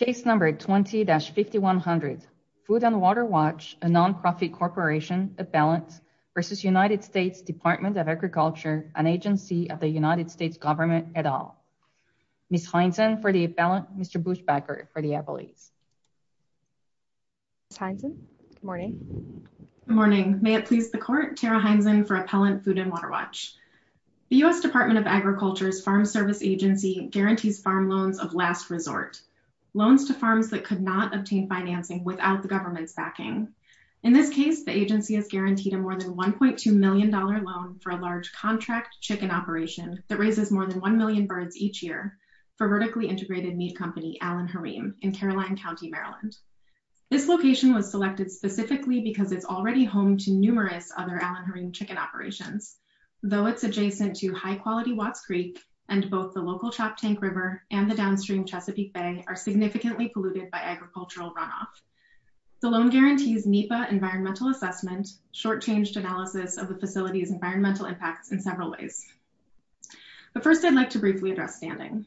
20-5100 Food and Water Watch, a non-profit corporation, appellant, v. United States Department of Agriculture, an agency of the United States government, et al. Ms. Hineson for the appellant, Mr. Buchbacher for the appellate. Ms. Hineson, good morning. Good morning. May it please the court, Tara Hineson for Appellant Food and Water Watch. The U.S. Department of Agriculture's Farm Service Agency guarantees farm loans of last resort, loans to farms that could not obtain financing without the government's backing. In this case, the agency is guaranteed a more than $1.2 million loan for a large contract chicken operation that raises more than 1 million birds each year for vertically integrated meat company Allen Harem in Caroline County, Maryland. This location was selected specifically because it's already home to numerous other Allen Though it's adjacent to high-quality Watts Creek, and both the local Chop Tank River and the downstream Chesapeake Bay are significantly polluted by agricultural runoff. The loan guarantees NEPA environmental assessment, short-changed analysis of the facility's environmental impacts in several ways. But first, I'd like to briefly address standing.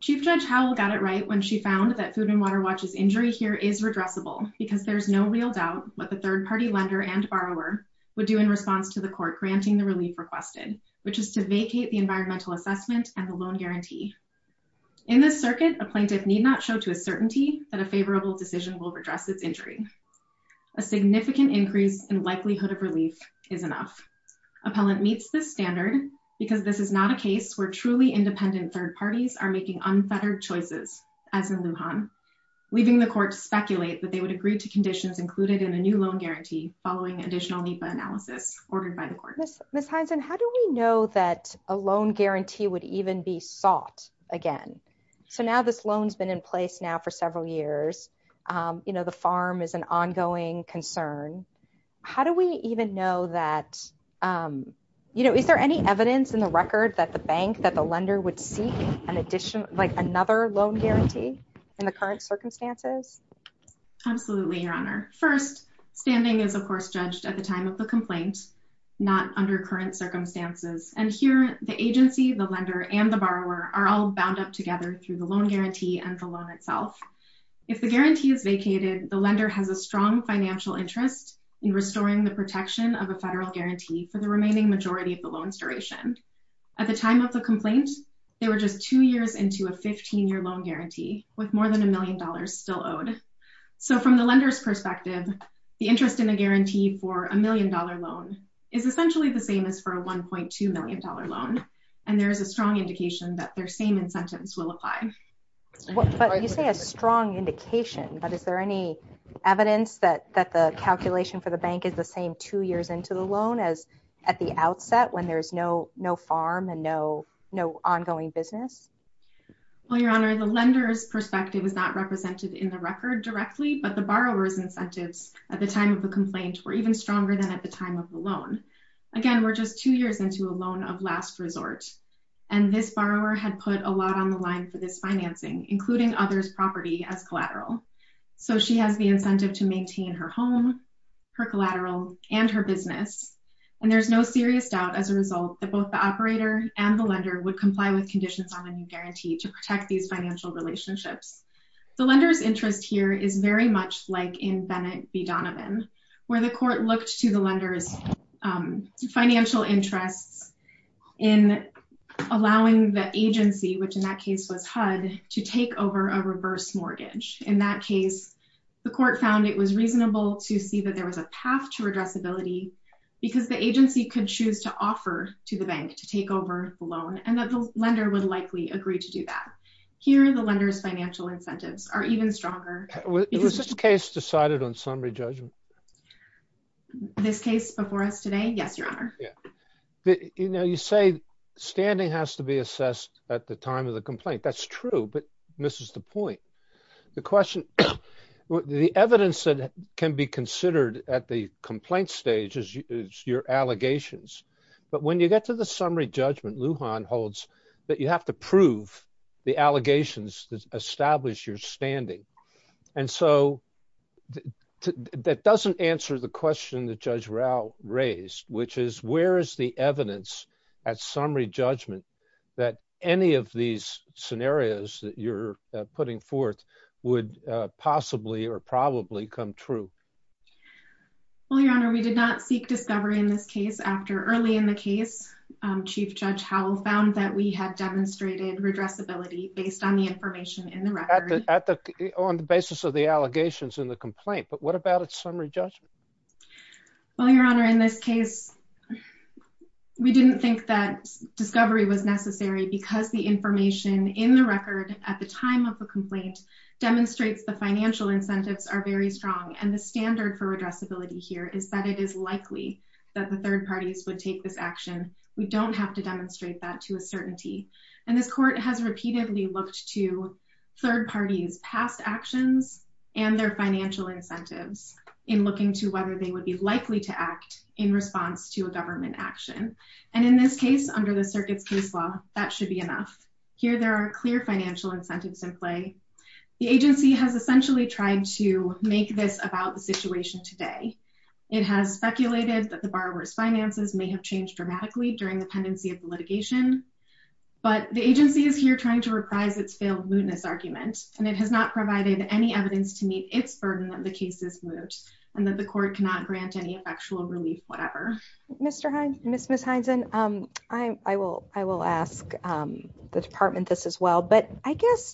Chief Judge Howell got it right when she found that Food and Water Watch's injury here is redressable because there's no real doubt what the third-party lender and borrower would do in response to the court granting the relief requested, which is to vacate the environmental assessment and the loan guarantee. In this circuit, a plaintiff need not show to a certainty that a favorable decision will redress its injury. A significant increase in likelihood of relief is enough. Appellant meets this standard because this is not a case where truly independent third parties are making unfettered choices, as in Lujan, leaving the court to speculate that they would agree to conditions included in a new loan guarantee following additional NEPA analysis ordered by the court. Ms. Hyneson, how do we know that a loan guarantee would even be sought again? So now this loan's been in place now for several years, you know, the farm is an ongoing concern. How do we even know that, you know, is there any evidence in the record that the bank, that the lender would seek an additional, like another loan guarantee in the current circumstances? Absolutely, Your Honor. First, standing is of course judged at the time of the complaint, not under current circumstances. And here, the agency, the lender, and the borrower are all bound up together through the loan guarantee and the loan itself. If the guarantee is vacated, the lender has a strong financial interest in restoring the protection of a federal guarantee for the remaining majority of the loan's duration. At the time of the complaint, they were just two years into a 15-year loan guarantee with more than a million dollars still owed. So from the lender's perspective, the interest in a guarantee for a million-dollar loan is essentially the same as for a 1.2-million-dollar loan. And there is a strong indication that their same incentives will apply. But you say a strong indication, but is there any evidence that the calculation for the bank is the same two years into the loan as at the outset when there's no farm and no ongoing business? Well, Your Honor, the lender's perspective is not represented in the record directly, but the borrower's incentives at the time of the complaint were even stronger than at the time of the loan. Again, we're just two years into a loan of last resort, and this borrower had put a lot on the line for this financing, including others' property as collateral. So she has the incentive to maintain her home, her collateral, and her business, and there's no serious doubt as a result that both the operator and the lender would comply with the conditions on the new guarantee to protect these financial relationships. The lender's interest here is very much like in Bennett v. Donovan, where the court looked to the lender's financial interests in allowing the agency, which in that case was HUD, to take over a reverse mortgage. In that case, the court found it was reasonable to see that there was a path to redressability because the agency could choose to offer to the bank to take over the loan and that the lender would likely agree to do that. Here, the lender's financial incentives are even stronger. Was this case decided on summary judgment? This case before us today, yes, Your Honor. You say standing has to be assessed at the time of the complaint. That's true, but this is the point. The question, the evidence that can be considered at the complaint stage is your allegations, but when you get to the summary judgment, Lujan holds that you have to prove the allegations that establish your standing. That doesn't answer the question that Judge Rao raised, which is where is the evidence at summary judgment that any of these scenarios that you're putting forth would possibly or probably come true? Well, Your Honor, we did not seek discovery in this case. After early in the case, Chief Judge Howell found that we had demonstrated redressability based on the information in the record. On the basis of the allegations in the complaint, but what about its summary judgment? Well, Your Honor, in this case, we didn't think that discovery was necessary because the information in the record at the time of the complaint demonstrates the financial incentives are very strong, and the standard for redressability here is that it is likely that the third parties would take this action. We don't have to demonstrate that to a certainty, and this court has repeatedly looked to third parties' past actions and their financial incentives in looking to whether they would be likely to act in response to a government action, and in this case, under the circuit's case law, that should be enough. Here there are clear financial incentives in play. The agency has essentially tried to make this about the situation today. It has speculated that the borrower's finances may have changed dramatically during the pendency of the litigation, but the agency is here trying to reprise its failed mootness argument, and it has not provided any evidence to meet its burden that the case is moot and that the court cannot grant any effectual relief whatever. Ms. Heinzen, I will ask the department this as well, but I guess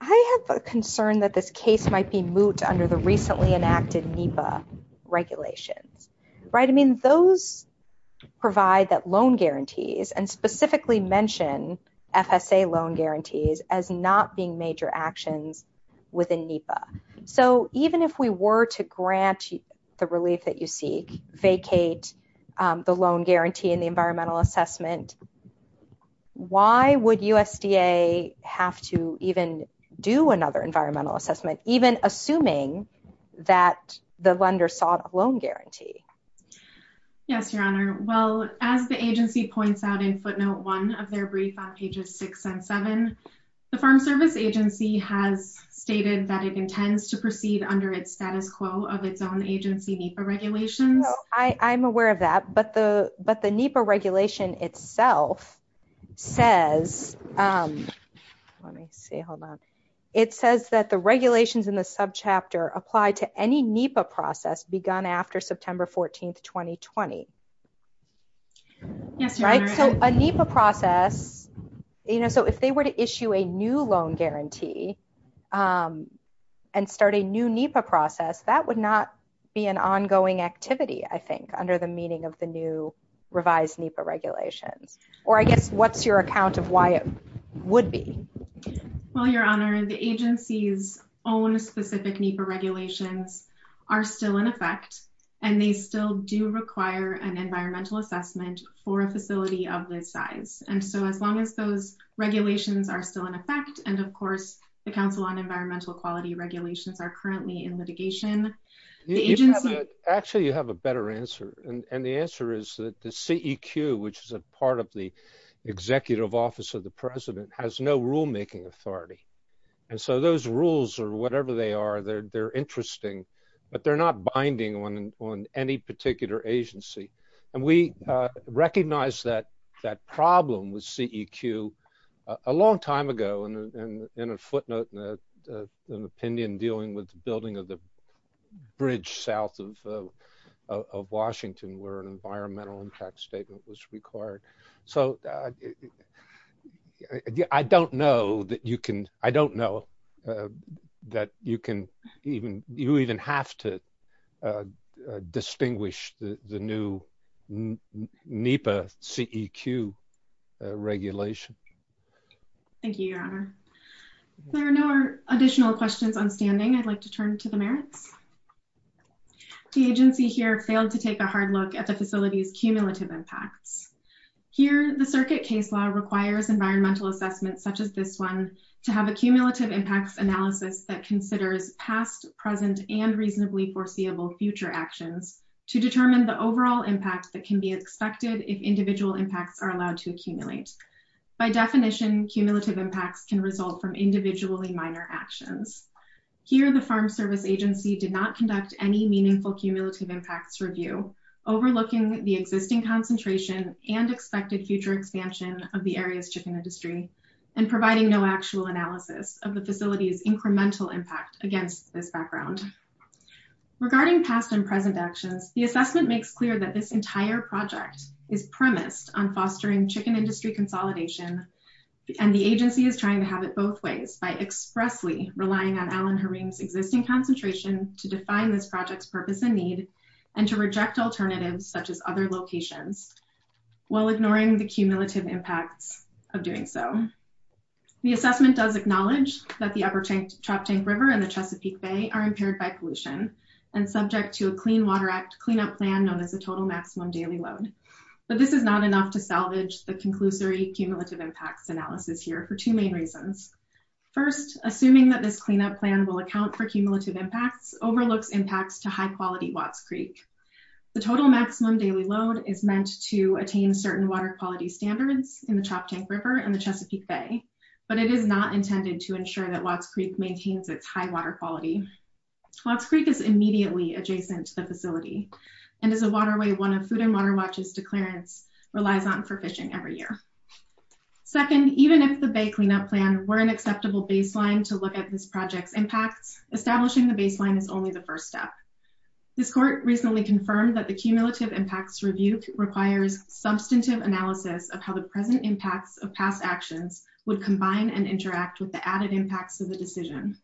I have a concern that this case might be moot under the recently enacted NEPA regulations, right? I mean, those provide that loan guarantees and specifically mention FSA loan guarantees as not being major actions within NEPA, so even if we were to grant the relief that you seek, vacate the loan guarantee and the environmental assessment, why would USDA have to even do another environmental assessment, even assuming that the lender sought a loan guarantee? Yes, Your Honor. Well, as the agency points out in footnote one of their brief on pages six and seven, the Farm Service Agency has stated that it intends to proceed under its status quo of its own agency NEPA regulations. I'm aware of that, but the NEPA regulation itself says, let me see, hold on. It says that the regulations in the subchapter apply to any NEPA process begun after September 14th, 2020. Yes, Your Honor. Right? So a NEPA process, you know, so if they were to issue a new loan guarantee and start a new NEPA process, that would not be an ongoing activity, I think, under the meaning of the new revised NEPA regulations, or I guess what's your account of why it would be? Well, Your Honor, the agency's own specific NEPA regulations are still in effect, and they still do require an environmental assessment for a facility of this size. And so as long as those regulations are still in effect, and of course, the Council on Environmental Quality regulations are currently in litigation. Actually, you have a better answer. And the answer is that the CEQ, which is a part of the Executive Office of the President, has no rulemaking authority. And so those rules, or whatever they are, they're interesting, but they're not binding on any particular agency. And we recognized that problem with CEQ a long time ago in a footnote in an opinion dealing with the building of the bridge south of Washington, where an environmental impact statement was required. So I don't know that you can, I don't know that you can even, you even have to distinguish the new NEPA CEQ regulation. Thank you, Your Honor. If there are no additional questions on standing, I'd like to turn to the merits. The agency here failed to take a hard look at the facility's cumulative impacts. Here, the circuit case law requires environmental assessments such as this one to have a cumulative impacts analysis that considers past, present, and reasonably foreseeable future actions to determine the overall impact that can be expected if individual impacts are allowed to accumulate. By definition, cumulative impacts can result from individually minor actions. Here, the Farm Service Agency did not conduct any meaningful cumulative impacts review, overlooking the existing concentration and expected future expansion of the area's chicken industry, and providing no actual analysis of the facility's incremental impact against this background. Regarding past and present actions, the assessment makes clear that this entire project is premised on fostering chicken industry consolidation, and the agency is trying to have it both ways by expressly relying on Alan Harim's existing concentration to define this project's purpose and need, and to reject alternatives such as other locations, while ignoring the cumulative impacts of doing so. The assessment does acknowledge that the Upper Trop Tank River and the Chesapeake Bay are impaired by pollution, and subject to a Clean Water Act cleanup plan known as a total maximum daily load. But this is not enough to salvage the conclusory cumulative impacts analysis here for two main reasons. First, assuming that this cleanup plan will account for cumulative impacts, overlooks impacts to high-quality Watts Creek. The total maximum daily load is meant to attain certain water quality standards in the Trop Tank River and the Chesapeake Bay, but it is not intended to ensure that Watts Creek maintains its high water quality. Watts Creek is immediately adjacent to the facility, and is a waterway one of Food and Water Watch's declarants relies on for fishing every year. Second, even if the Bay cleanup plan were an acceptable baseline to look at this project's impacts, establishing the baseline is only the first step. This court recently confirmed that the cumulative impacts review requires substantive analysis of how the present impacts of past actions would combine and interact with the added impacts of the decision.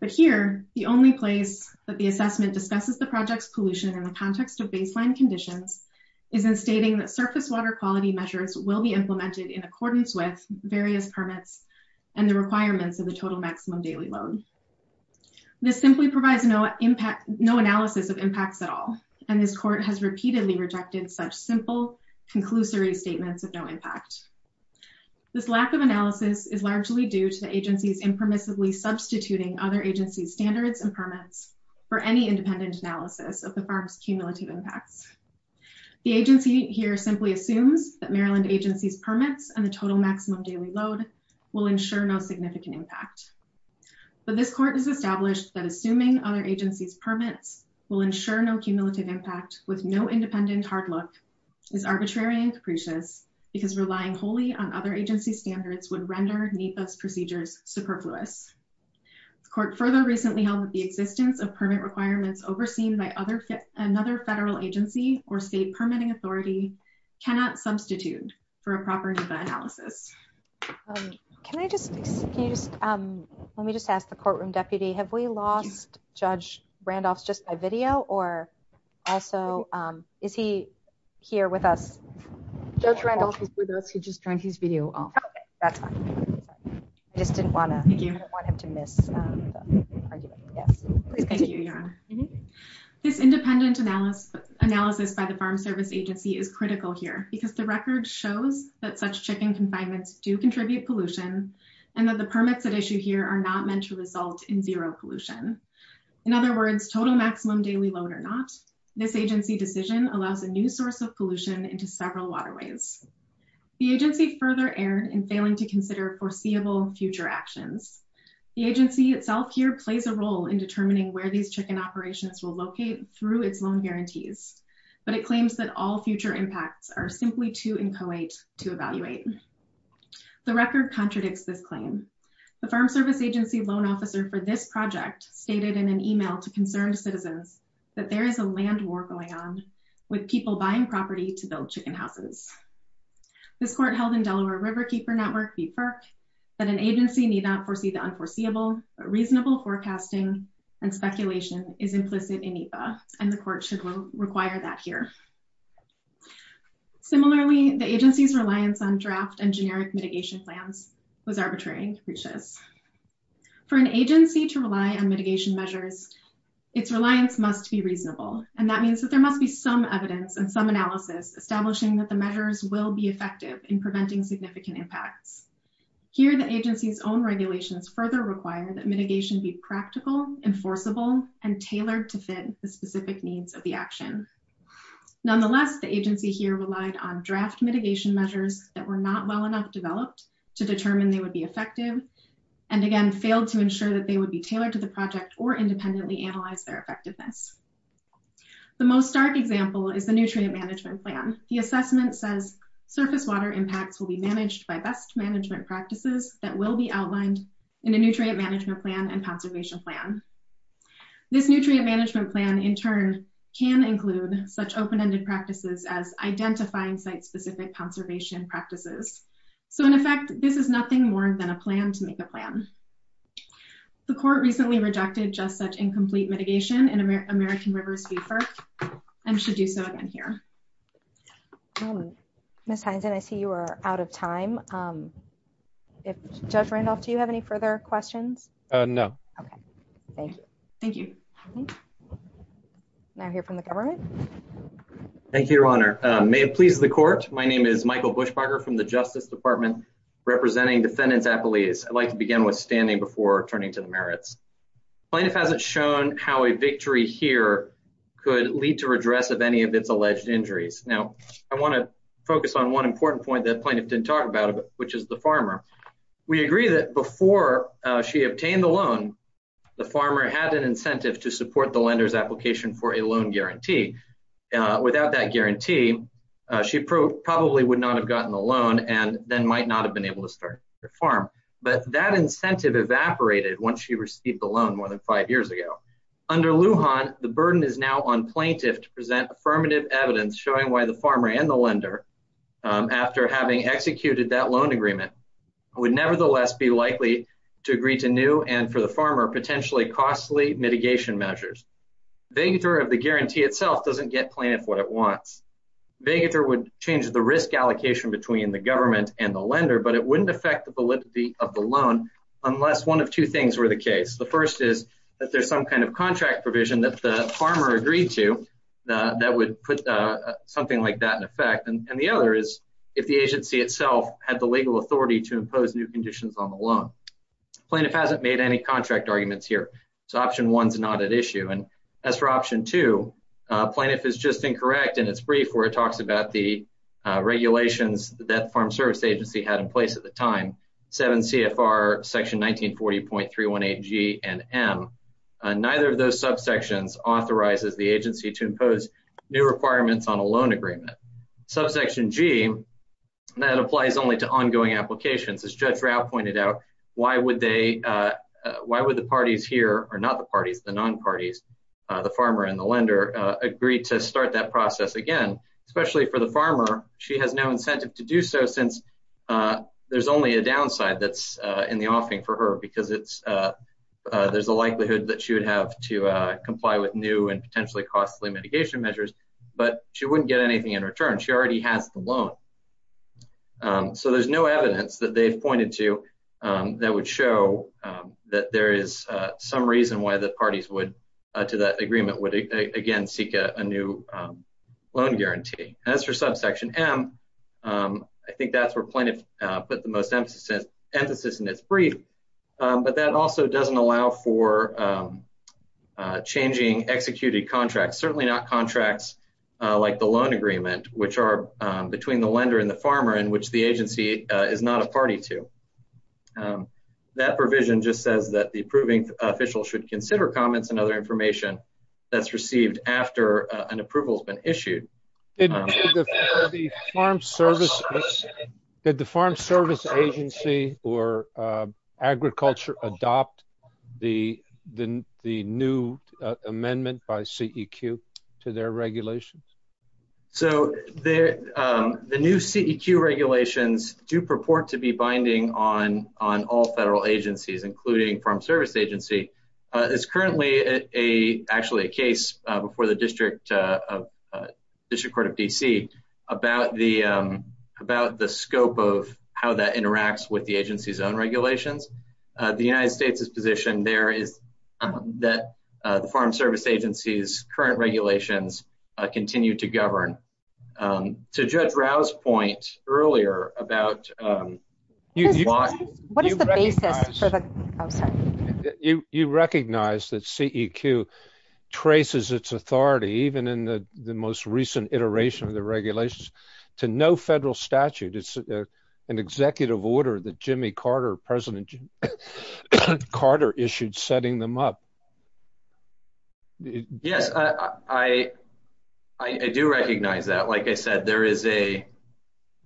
But here, the only place that the assessment discusses the project's pollution in the context of baseline conditions, is in stating that surface water quality measures will be implemented in accordance with various permits and the requirements of the total maximum daily load. This simply provides no analysis of impacts at all, and this court has repeatedly rejected such simple, conclusory statements of no impact. This lack of analysis is largely due to the agency's impermissibly substituting other agency's standards and permits for any independent analysis of the farm's cumulative impacts. The agency here simply assumes that Maryland agency's permits and the total maximum daily load will ensure no significant impact. But this court has established that assuming other agency's permits will ensure no cumulative impact with no independent hard look is arbitrary and capricious because relying wholly on other agency's standards would render NEPA's procedures superfluous. The court further recently held that the existence of permit requirements overseen by another federal agency or state permitting authority cannot substitute for a proper NEPA analysis. Can I just, can you just, let me just ask the courtroom deputy, have we lost Judge Randolph's just by video, or also, is he here with us? Judge Randolph is with us, he just turned his video off. Okay, that's fine. I just didn't want him to miss the argument. Thank you, Your Honor. This independent analysis by the Farm Service Agency is critical here because the record shows that such shipping confinements do contribute pollution and that the permits at issue here are not meant to result in zero pollution. In other words, total maximum daily load or not, this agency decision allows a new source of pollution into several waterways. The agency further erred in failing to consider foreseeable future actions. The agency itself here plays a role in determining where these chicken operations will locate through its loan guarantees, but it claims that all future impacts are simply too inchoate to evaluate. The record contradicts this claim. The Farm Service Agency loan officer for this project stated in an email to concerned citizens that there is a land war going on with people buying property to build chicken houses. This court held in Delaware Riverkeeper Network v. FERC that an agency need not foresee the unforeseeable, but reasonable forecasting and speculation is implicit in EPA, and the court should require that here. Similarly, the agency's reliance on draft and generic mitigation plans was arbitrary and capricious. For an agency to rely on mitigation measures, its reliance must be reasonable, and that means that there must be some evidence and some analysis establishing that the measures will be effective in preventing significant impacts. Here, the agency's own regulations further require that mitigation be practical, enforceable, and tailored to fit the specific needs of the action. Nonetheless, the agency here relied on draft mitigation measures that were not well enough developed to determine they would be effective, and again, failed to ensure that they would be tailored to the project or independently analyze their effectiveness. The most stark example is the nutrient management plan. The assessment says surface water impacts will be managed by best management practices that will be outlined in a nutrient management plan and conservation plan. This nutrient management plan, in turn, can include such open-ended practices as identifying site-specific conservation practices. So, in effect, this is nothing more than a plan to make a plan. The court recently rejected just such incomplete mitigation in American Rivers Beefer and should do so again here. Ms. Hineson, I see you are out of time. Judge Randolph, do you have any further questions? Okay. Thank you. Thank you. Now hear from the government. Thank you, Your Honor. May it please the court, my name is Michael Bushbacher from the Justice Department representing defendants at police. I'd like to begin with standing before turning to the merits. Plaintiff hasn't shown how a victory here could lead to redress of any of its alleged injuries. Now, I want to focus on one important point that plaintiff didn't talk about, which is the farmer. We agree that before she obtained the loan, the farmer had an incentive to support the lender's application for a loan guarantee. Without that guarantee, she probably would not have gotten the loan and then might not have been able to start the farm. But that incentive evaporated once she received the loan more than five years ago. Under Lujan, the burden is now on plaintiff to present affirmative evidence showing why the farmer and the lender, after having executed that loan agreement, would nevertheless be likely to agree to new and, for the farmer, potentially costly mitigation measures. Vagator of the guarantee itself doesn't get plaintiff what it wants. Vagator would change the risk allocation between the government and the lender, but it wouldn't affect the validity of the loan unless one of two things were the case. The first is that there's some kind of contract provision that the farmer agreed to that would put something like that in effect, and the other is if the agency itself had the legal authority to impose new conditions on the loan. Plaintiff hasn't made any contract arguments here, so option one's not at issue. As for option two, plaintiff is just incorrect in its brief where it talks about the regulations that Farm Service Agency had in place at the time, 7 CFR section 1940.318G and M. Neither of those subsections authorizes the agency to impose new requirements on a loan agreement. Subsection G, that applies only to ongoing applications. As Judge Rao pointed out, why would the parties here, or not the parties, the non-parties, the farmer and the lender, agree to start that process again? Especially for the farmer, she has no incentive to do so since there's only a downside that's in the offering for her because there's a likelihood that she would have to comply with new and potentially costly mitigation measures, but she wouldn't get anything in return. She already has the loan. So there's no evidence that they've pointed to that would show that there is some reason why the parties would, to that agreement, would again seek a new loan guarantee. As for subsection M, I think that's where plaintiff put the most emphasis in its brief, but that also doesn't allow for changing executed contracts, certainly not contracts like the loan agreement, which are between the lender and the farmer and which the agency is not a party to. That provision just says that the approving official should consider comments and other information that's received after an approval has been issued. Did the Farm Service Agency or Agriculture adopt the new amendment by CEQ to their regulations? So the new CEQ regulations do purport to be binding on all federal agencies, including Farm Service Agency, is currently actually a case before the District Court of D.C. about the scope of how that interacts with the agency's own regulations. The United States' position there is that the Farm Service Agency's current regulations continue to govern. To Judge Rao's point earlier about... What is the basis for the... You recognize that CEQ traces its authority, even in the most recent iteration of the regulations, to no federal statute. It's an executive order that Jimmy Carter, President Carter, issued setting them up. Yes, I do recognize that. Like I said, there is a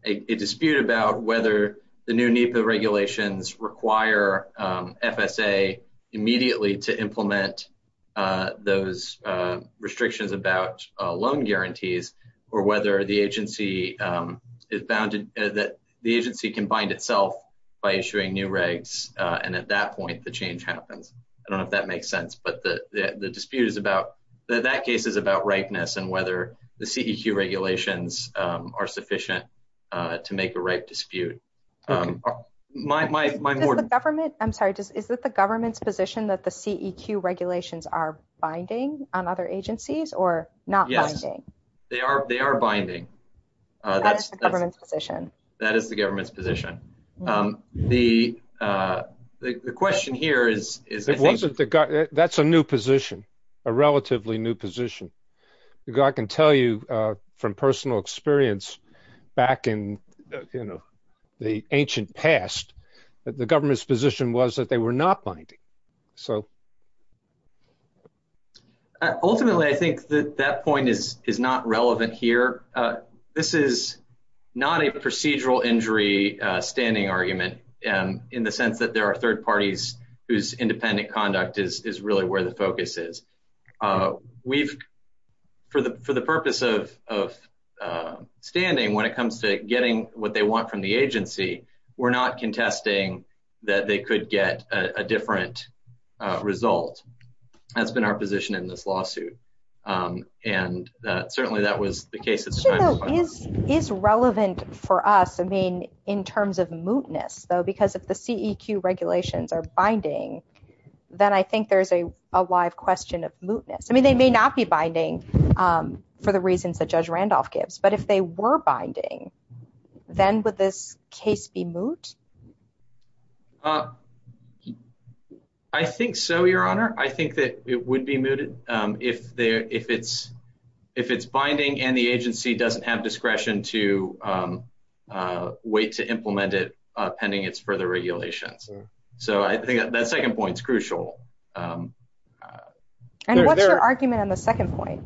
dispute about whether the new NEPA regulations require FSA immediately to implement those restrictions about loan guarantees or whether the agency can bind itself by issuing new regs, and at that point the change happens. I don't know if that makes sense, but the dispute is about... That case is about rightness and whether the CEQ regulations are sufficient to make a right dispute. My more... Is it the government's position that the CEQ regulations are binding on other agencies or not binding? Yes, they are binding. That is the government's position. That is the government's position. The question here is... That's a new position, a relatively new position. I can tell you from personal experience back in the ancient past that the government's position was that they were not binding. Ultimately, I think that that point is not relevant here. This is not a procedural injury standing argument in the sense that there are third parties whose independent conduct is really where the focus is. We've... For the purpose of standing, when it comes to getting what they want from the agency, we're not contesting that they could get a different result. That's been our position in this lawsuit, and certainly that was the case at the time. Is relevant for us, I mean, in terms of mootness, though, because if the CEQ regulations are binding, then I think there's a live question of mootness. I mean, they may not be binding for the reasons that Judge Randolph gives, but if they were binding, then would this case be moot? I think so, Your Honor. I think that it would be mooted if it's binding and the agency doesn't have discretion to wait to implement it pending its further regulations. So I think that second point's crucial. And what's your argument on the second point?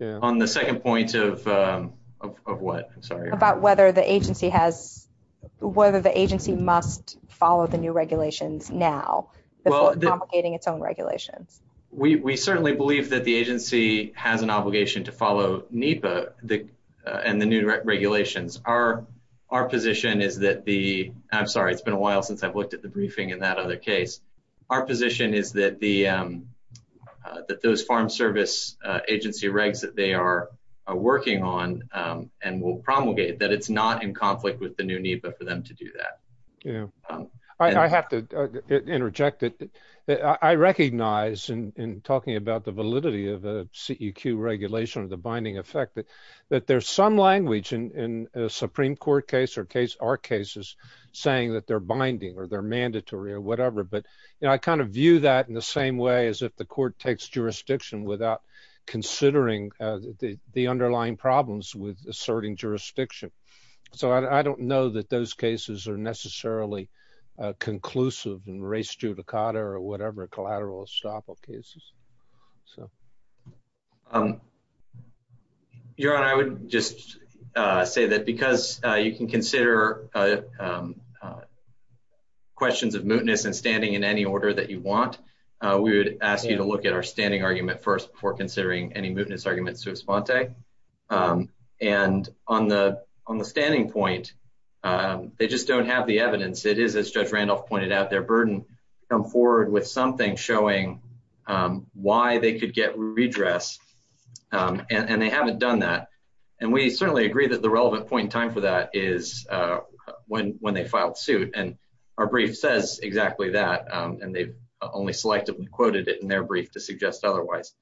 On the second point of what, I'm sorry? About whether the agency has... whether the agency must follow the new regulations now before promulgating its own regulations. We certainly believe that the agency has an obligation to follow NEPA and the new regulations. Our position is that the... I'm sorry, it's been a while since I've looked at the briefing in that other case. Our position is that the... that those farm service agency regs that they are working on and will promulgate, that it's not in conflict with the new NEPA for them to do that. I have to interject. I recognize, in talking about the validity of the CEQ regulation or the binding effect, that there's some language in a Supreme Court case or our cases saying that they're binding or they're mandatory or whatever. But I kind of view that in the same way as if the court takes jurisdiction without considering the underlying problems with asserting jurisdiction. So I don't know that those cases are necessarily conclusive in race judicata or whatever collateral estoppel cases. Your Honor, I would just say that because you can consider questions of mootness and standing in any order that you want, we would ask you to look at our standing argument first before considering any mootness argument sua sponte. And on the standing point, they just don't have the evidence. It is, as Judge Randolph pointed out, their burden to come forward with something showing why they could get redress and they haven't done that. And we certainly agree that the relevant point in time for that is when they filed suit. And our brief says exactly that and they've only selectively quoted it in their brief to suggest otherwise.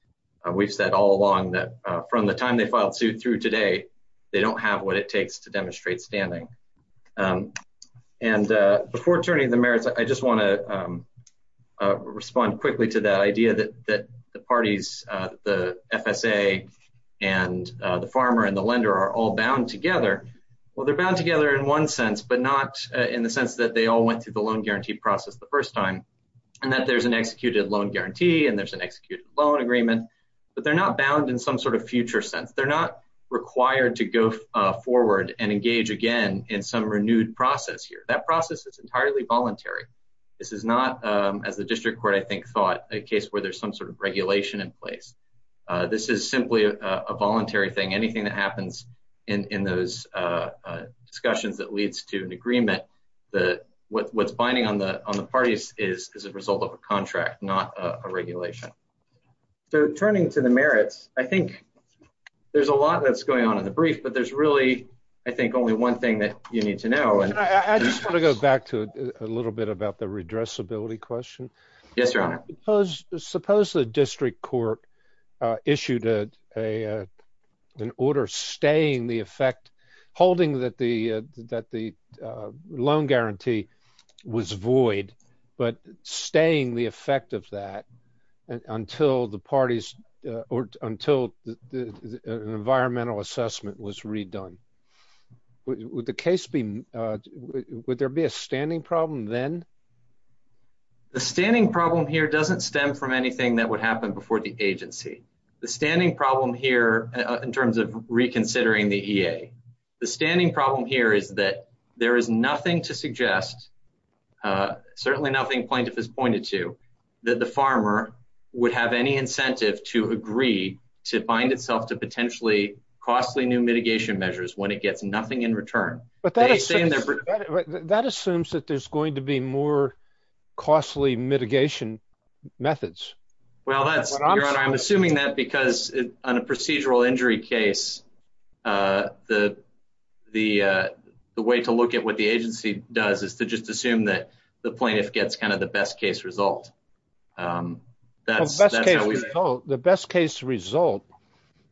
We've said all along that from the time they filed suit through today, they don't have what it takes to demonstrate standing. And before turning to the merits, I just want to respond quickly to that idea that the parties, the FSA and the farmer and the lender are all bound together. Well, they're bound together in one sense, but not in the sense that they all went through the loan guarantee process the first time and that there's an executed loan guarantee and there's an executed loan agreement. But they're not bound in some sort of future sense. They're not required to go forward and engage again in some renewed process here. That process is entirely voluntary. This is not, as the district court I think thought, a case where there's some sort of regulation in place. This is simply a voluntary thing. Anything that happens in those discussions that leads to an agreement that what's binding on the parties is a result of a contract, not a regulation. So turning to the merits, I think there's a lot that's going on in the brief, but there's really I think only one thing that you need to know. I just want to go back to a little bit about the redressability question. Yes, Your Honor. Suppose the district court issued an order staying the effect, holding that the loan guarantee was void but staying the effect of that until the parties or until an environmental assessment was redone. Would the case be would there be a standing problem then? The standing problem here doesn't stem from anything that would happen before the agency. The standing problem here in terms of reconsidering the EA the standing problem here is that there is nothing to suggest certainly nothing plaintiff has pointed to that the farmer would have any incentive to agree to bind itself to potentially costly new mitigation measures when it gets nothing in return. That assumes that there's going to be more costly mitigation methods. I'm assuming that because on a procedural injury case the way to look at what the agency does is to just assume that the plaintiff gets kind of the best case result. The best case result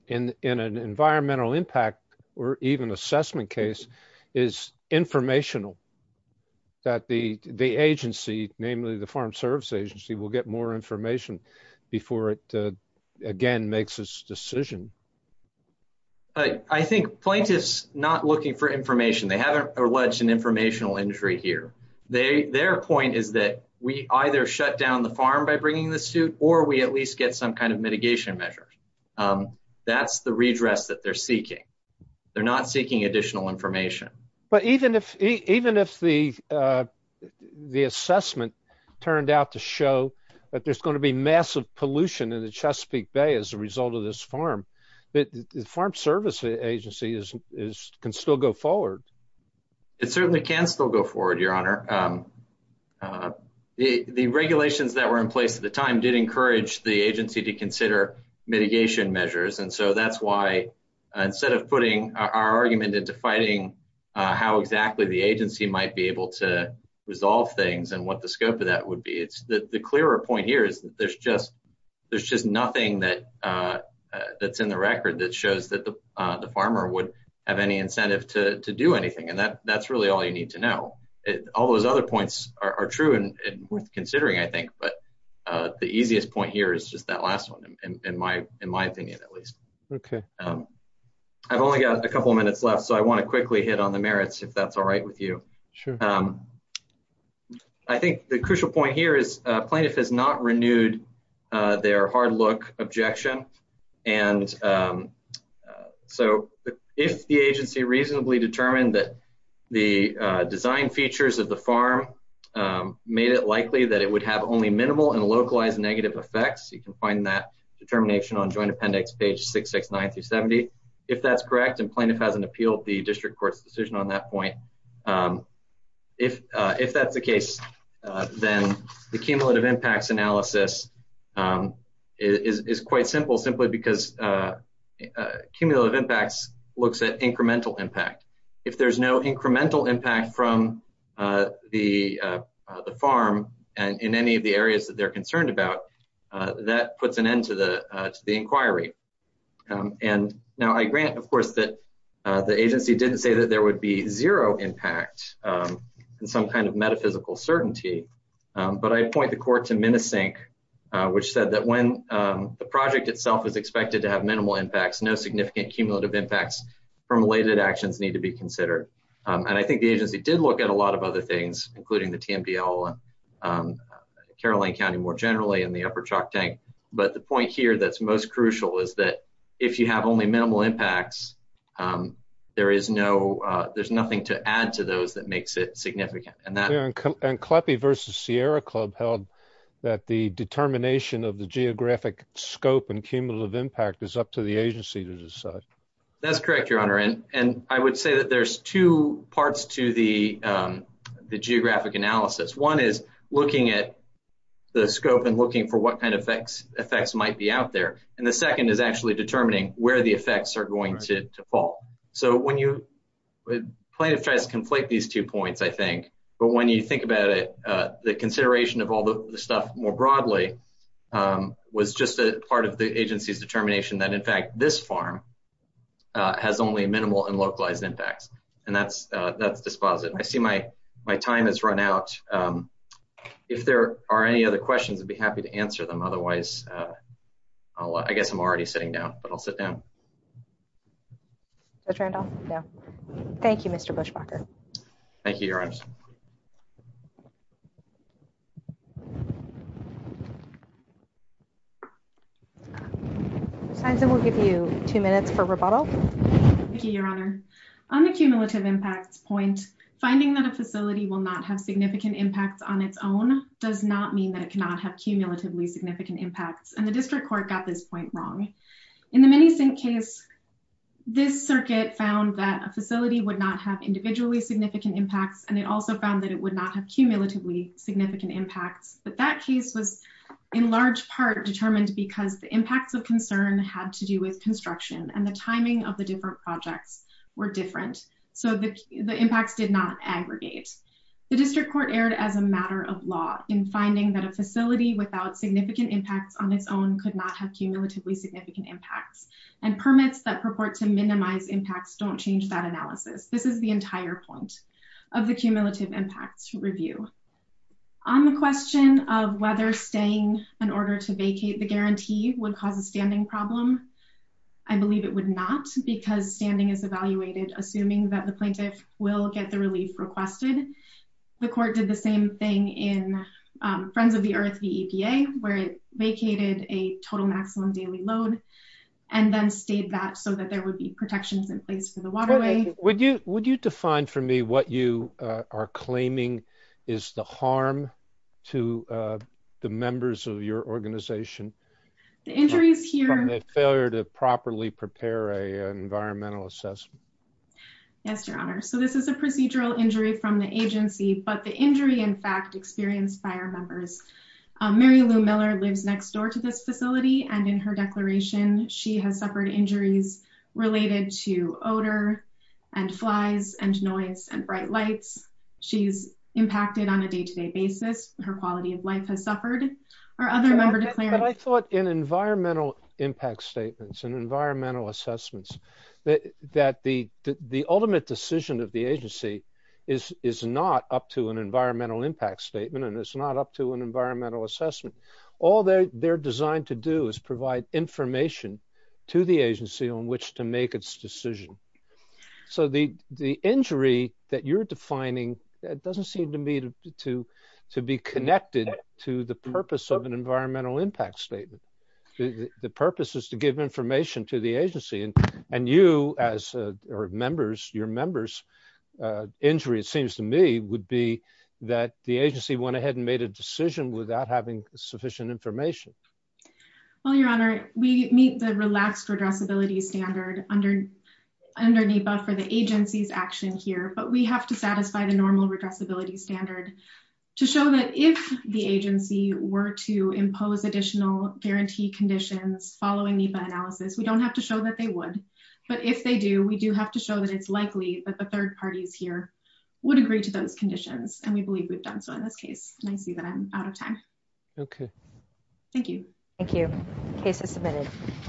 in an environmental impact or even assessment case is informational that the Farm Service Agency will get more information before it again makes its decision. I think plaintiffs not looking for information they haven't alleged an informational injury here. Their point is that we either shut down the farm by bringing the suit or we at least get some kind of mitigation measure. That's the redress that they're seeking. They're not seeking additional information. Even if the assessment turned out to show that there's going to be massive pollution in the Chesapeake Bay as a result of this farm the Farm Service Agency can still go forward. It certainly can still go forward, Your Honor. The regulations that were in place at the time did encourage the agency to consider mitigation measures and so that's why instead of putting our argument into fighting how exactly the agency might be able to resolve things and what the scope of that would be. The clearer point here is that there's just nothing that's in the record that shows that the farmer would have any incentive to do anything and that's really all you need to know. All those other points are true and worth considering I think but the easiest point here is just that last one in my opinion at least. I've only got a couple minutes left so I want to quickly hit on the merits if that's alright with you. I think the crucial point here is plaintiff has not renewed their hard look objection and so if the agency reasonably determined that the design features of the farm made it likely that it would have only minimal and localized negative effects, you can find that determination on Joint Appendix page 669-70. If that's correct and plaintiff hasn't appealed the district court's decision on that point if that's the case then the cumulative impacts analysis is quite simple simply because cumulative impacts looks at incremental impact. If there's no incremental impact from the farm in any of the areas that they're concerned about, that puts an end to the inquiry. Now I grant of course that the agency didn't say that there would be zero impact in some kind of metaphysical certainty, but I point the court to Minisync which said that when the project itself is expected to have minimal impacts, no significant cumulative impacts from related actions need to be considered and I think the agency did look at a lot of other things including the TMDL Caroline County more generally and the Upper Chalk Tank, but the point here that's most crucial is that if you have only minimal impacts there is no there's nothing to add to those that makes it significant. And Kleppe v. Sierra Club held that the determination of the geographic scope and cumulative impact is up to the agency to decide. That's correct your honor and I would say that there's two parts to the geographic analysis. One is looking at the scope and looking for what kind of effects might be out there and the second is actually determining where the effects are going to fall. So when you plaintiff tries to conflate these two points I think, but when you think about it the consideration of all the stuff more broadly was just a part of the agency's determination that in fact this farm has only minimal and localized impacts and that's dispositive. I see my time has run out. If there are any other questions I'd be happy to answer them otherwise I guess I'm already sitting down but I'll sit down. Judge Randolph? No. Thank you Mr. Buschbacher. Thank you your honor. Ms. Heinsen we'll give you two minutes for rebuttal. Thank you your honor. On the cumulative impacts point finding that a facility will not have significant impacts on its own does not mean that it cannot have cumulatively significant impacts and the district court got this point wrong. In the Minisink case this circuit found that a facility would not have individually significant impacts and it also found that it would not have cumulatively significant impacts but that case was in large part determined because the impacts of concern had to do with construction and the timing of the different projects were different so the impacts did not aggregate. The district court erred as a matter of law in finding that a facility without significant impacts on its own could not have cumulatively significant impacts and permits that purport to minimize impacts don't change that analysis. This is the entire point of the cumulative impacts review. On the question of whether staying in order to vacate the guarantee would cause a standing problem, I believe it would not because standing is evaluated assuming that the plaintiff will get the relief requested. The court did the same thing in Friends of the Earth, the EPA where it vacated a total maximum daily load and then stayed that so that there would be protections in place for the waterway. Would you define for me what you are claiming is the harm to the members of your organization? The injuries here and the failure to properly prepare an environmental assessment? Yes, Your Honor. So this is a procedural injury from the agency but the injury in fact experienced by our members. Mary Lou Miller lives next door to this facility and in her declaration she has suffered injuries related to odor and flies and noise and bright lights. She's impacted on a day-to-day basis. Her quality of life has suffered. Our other member declared But I thought in environmental impact statements and environmental assessments that the ultimate decision of the agency is not up to an environmental impact statement and it's not up to an environmental assessment. All they're designed to do is provide information to the agency on which to make its decision. So the injury that you're defining doesn't seem to me to be connected to the purpose of an environmental impact statement. The purpose is to give information to the agency and you as your members injury it seems to me would be that the agency went ahead and made a decision without having sufficient information. Well, Your Honor, we meet the relaxed redressability standard under NEPA for the agency's action here but we have to satisfy the normal redressability standard to show that if the agency were to impose additional guarantee conditions following NEPA analysis, we don't have to show that they would. But if they do, we do have to show that it's likely that the third parties here would agree to those conditions and we believe we've done so in this case. And I see that I'm out of time. Okay. Thank you. Thank you. Case is submitted.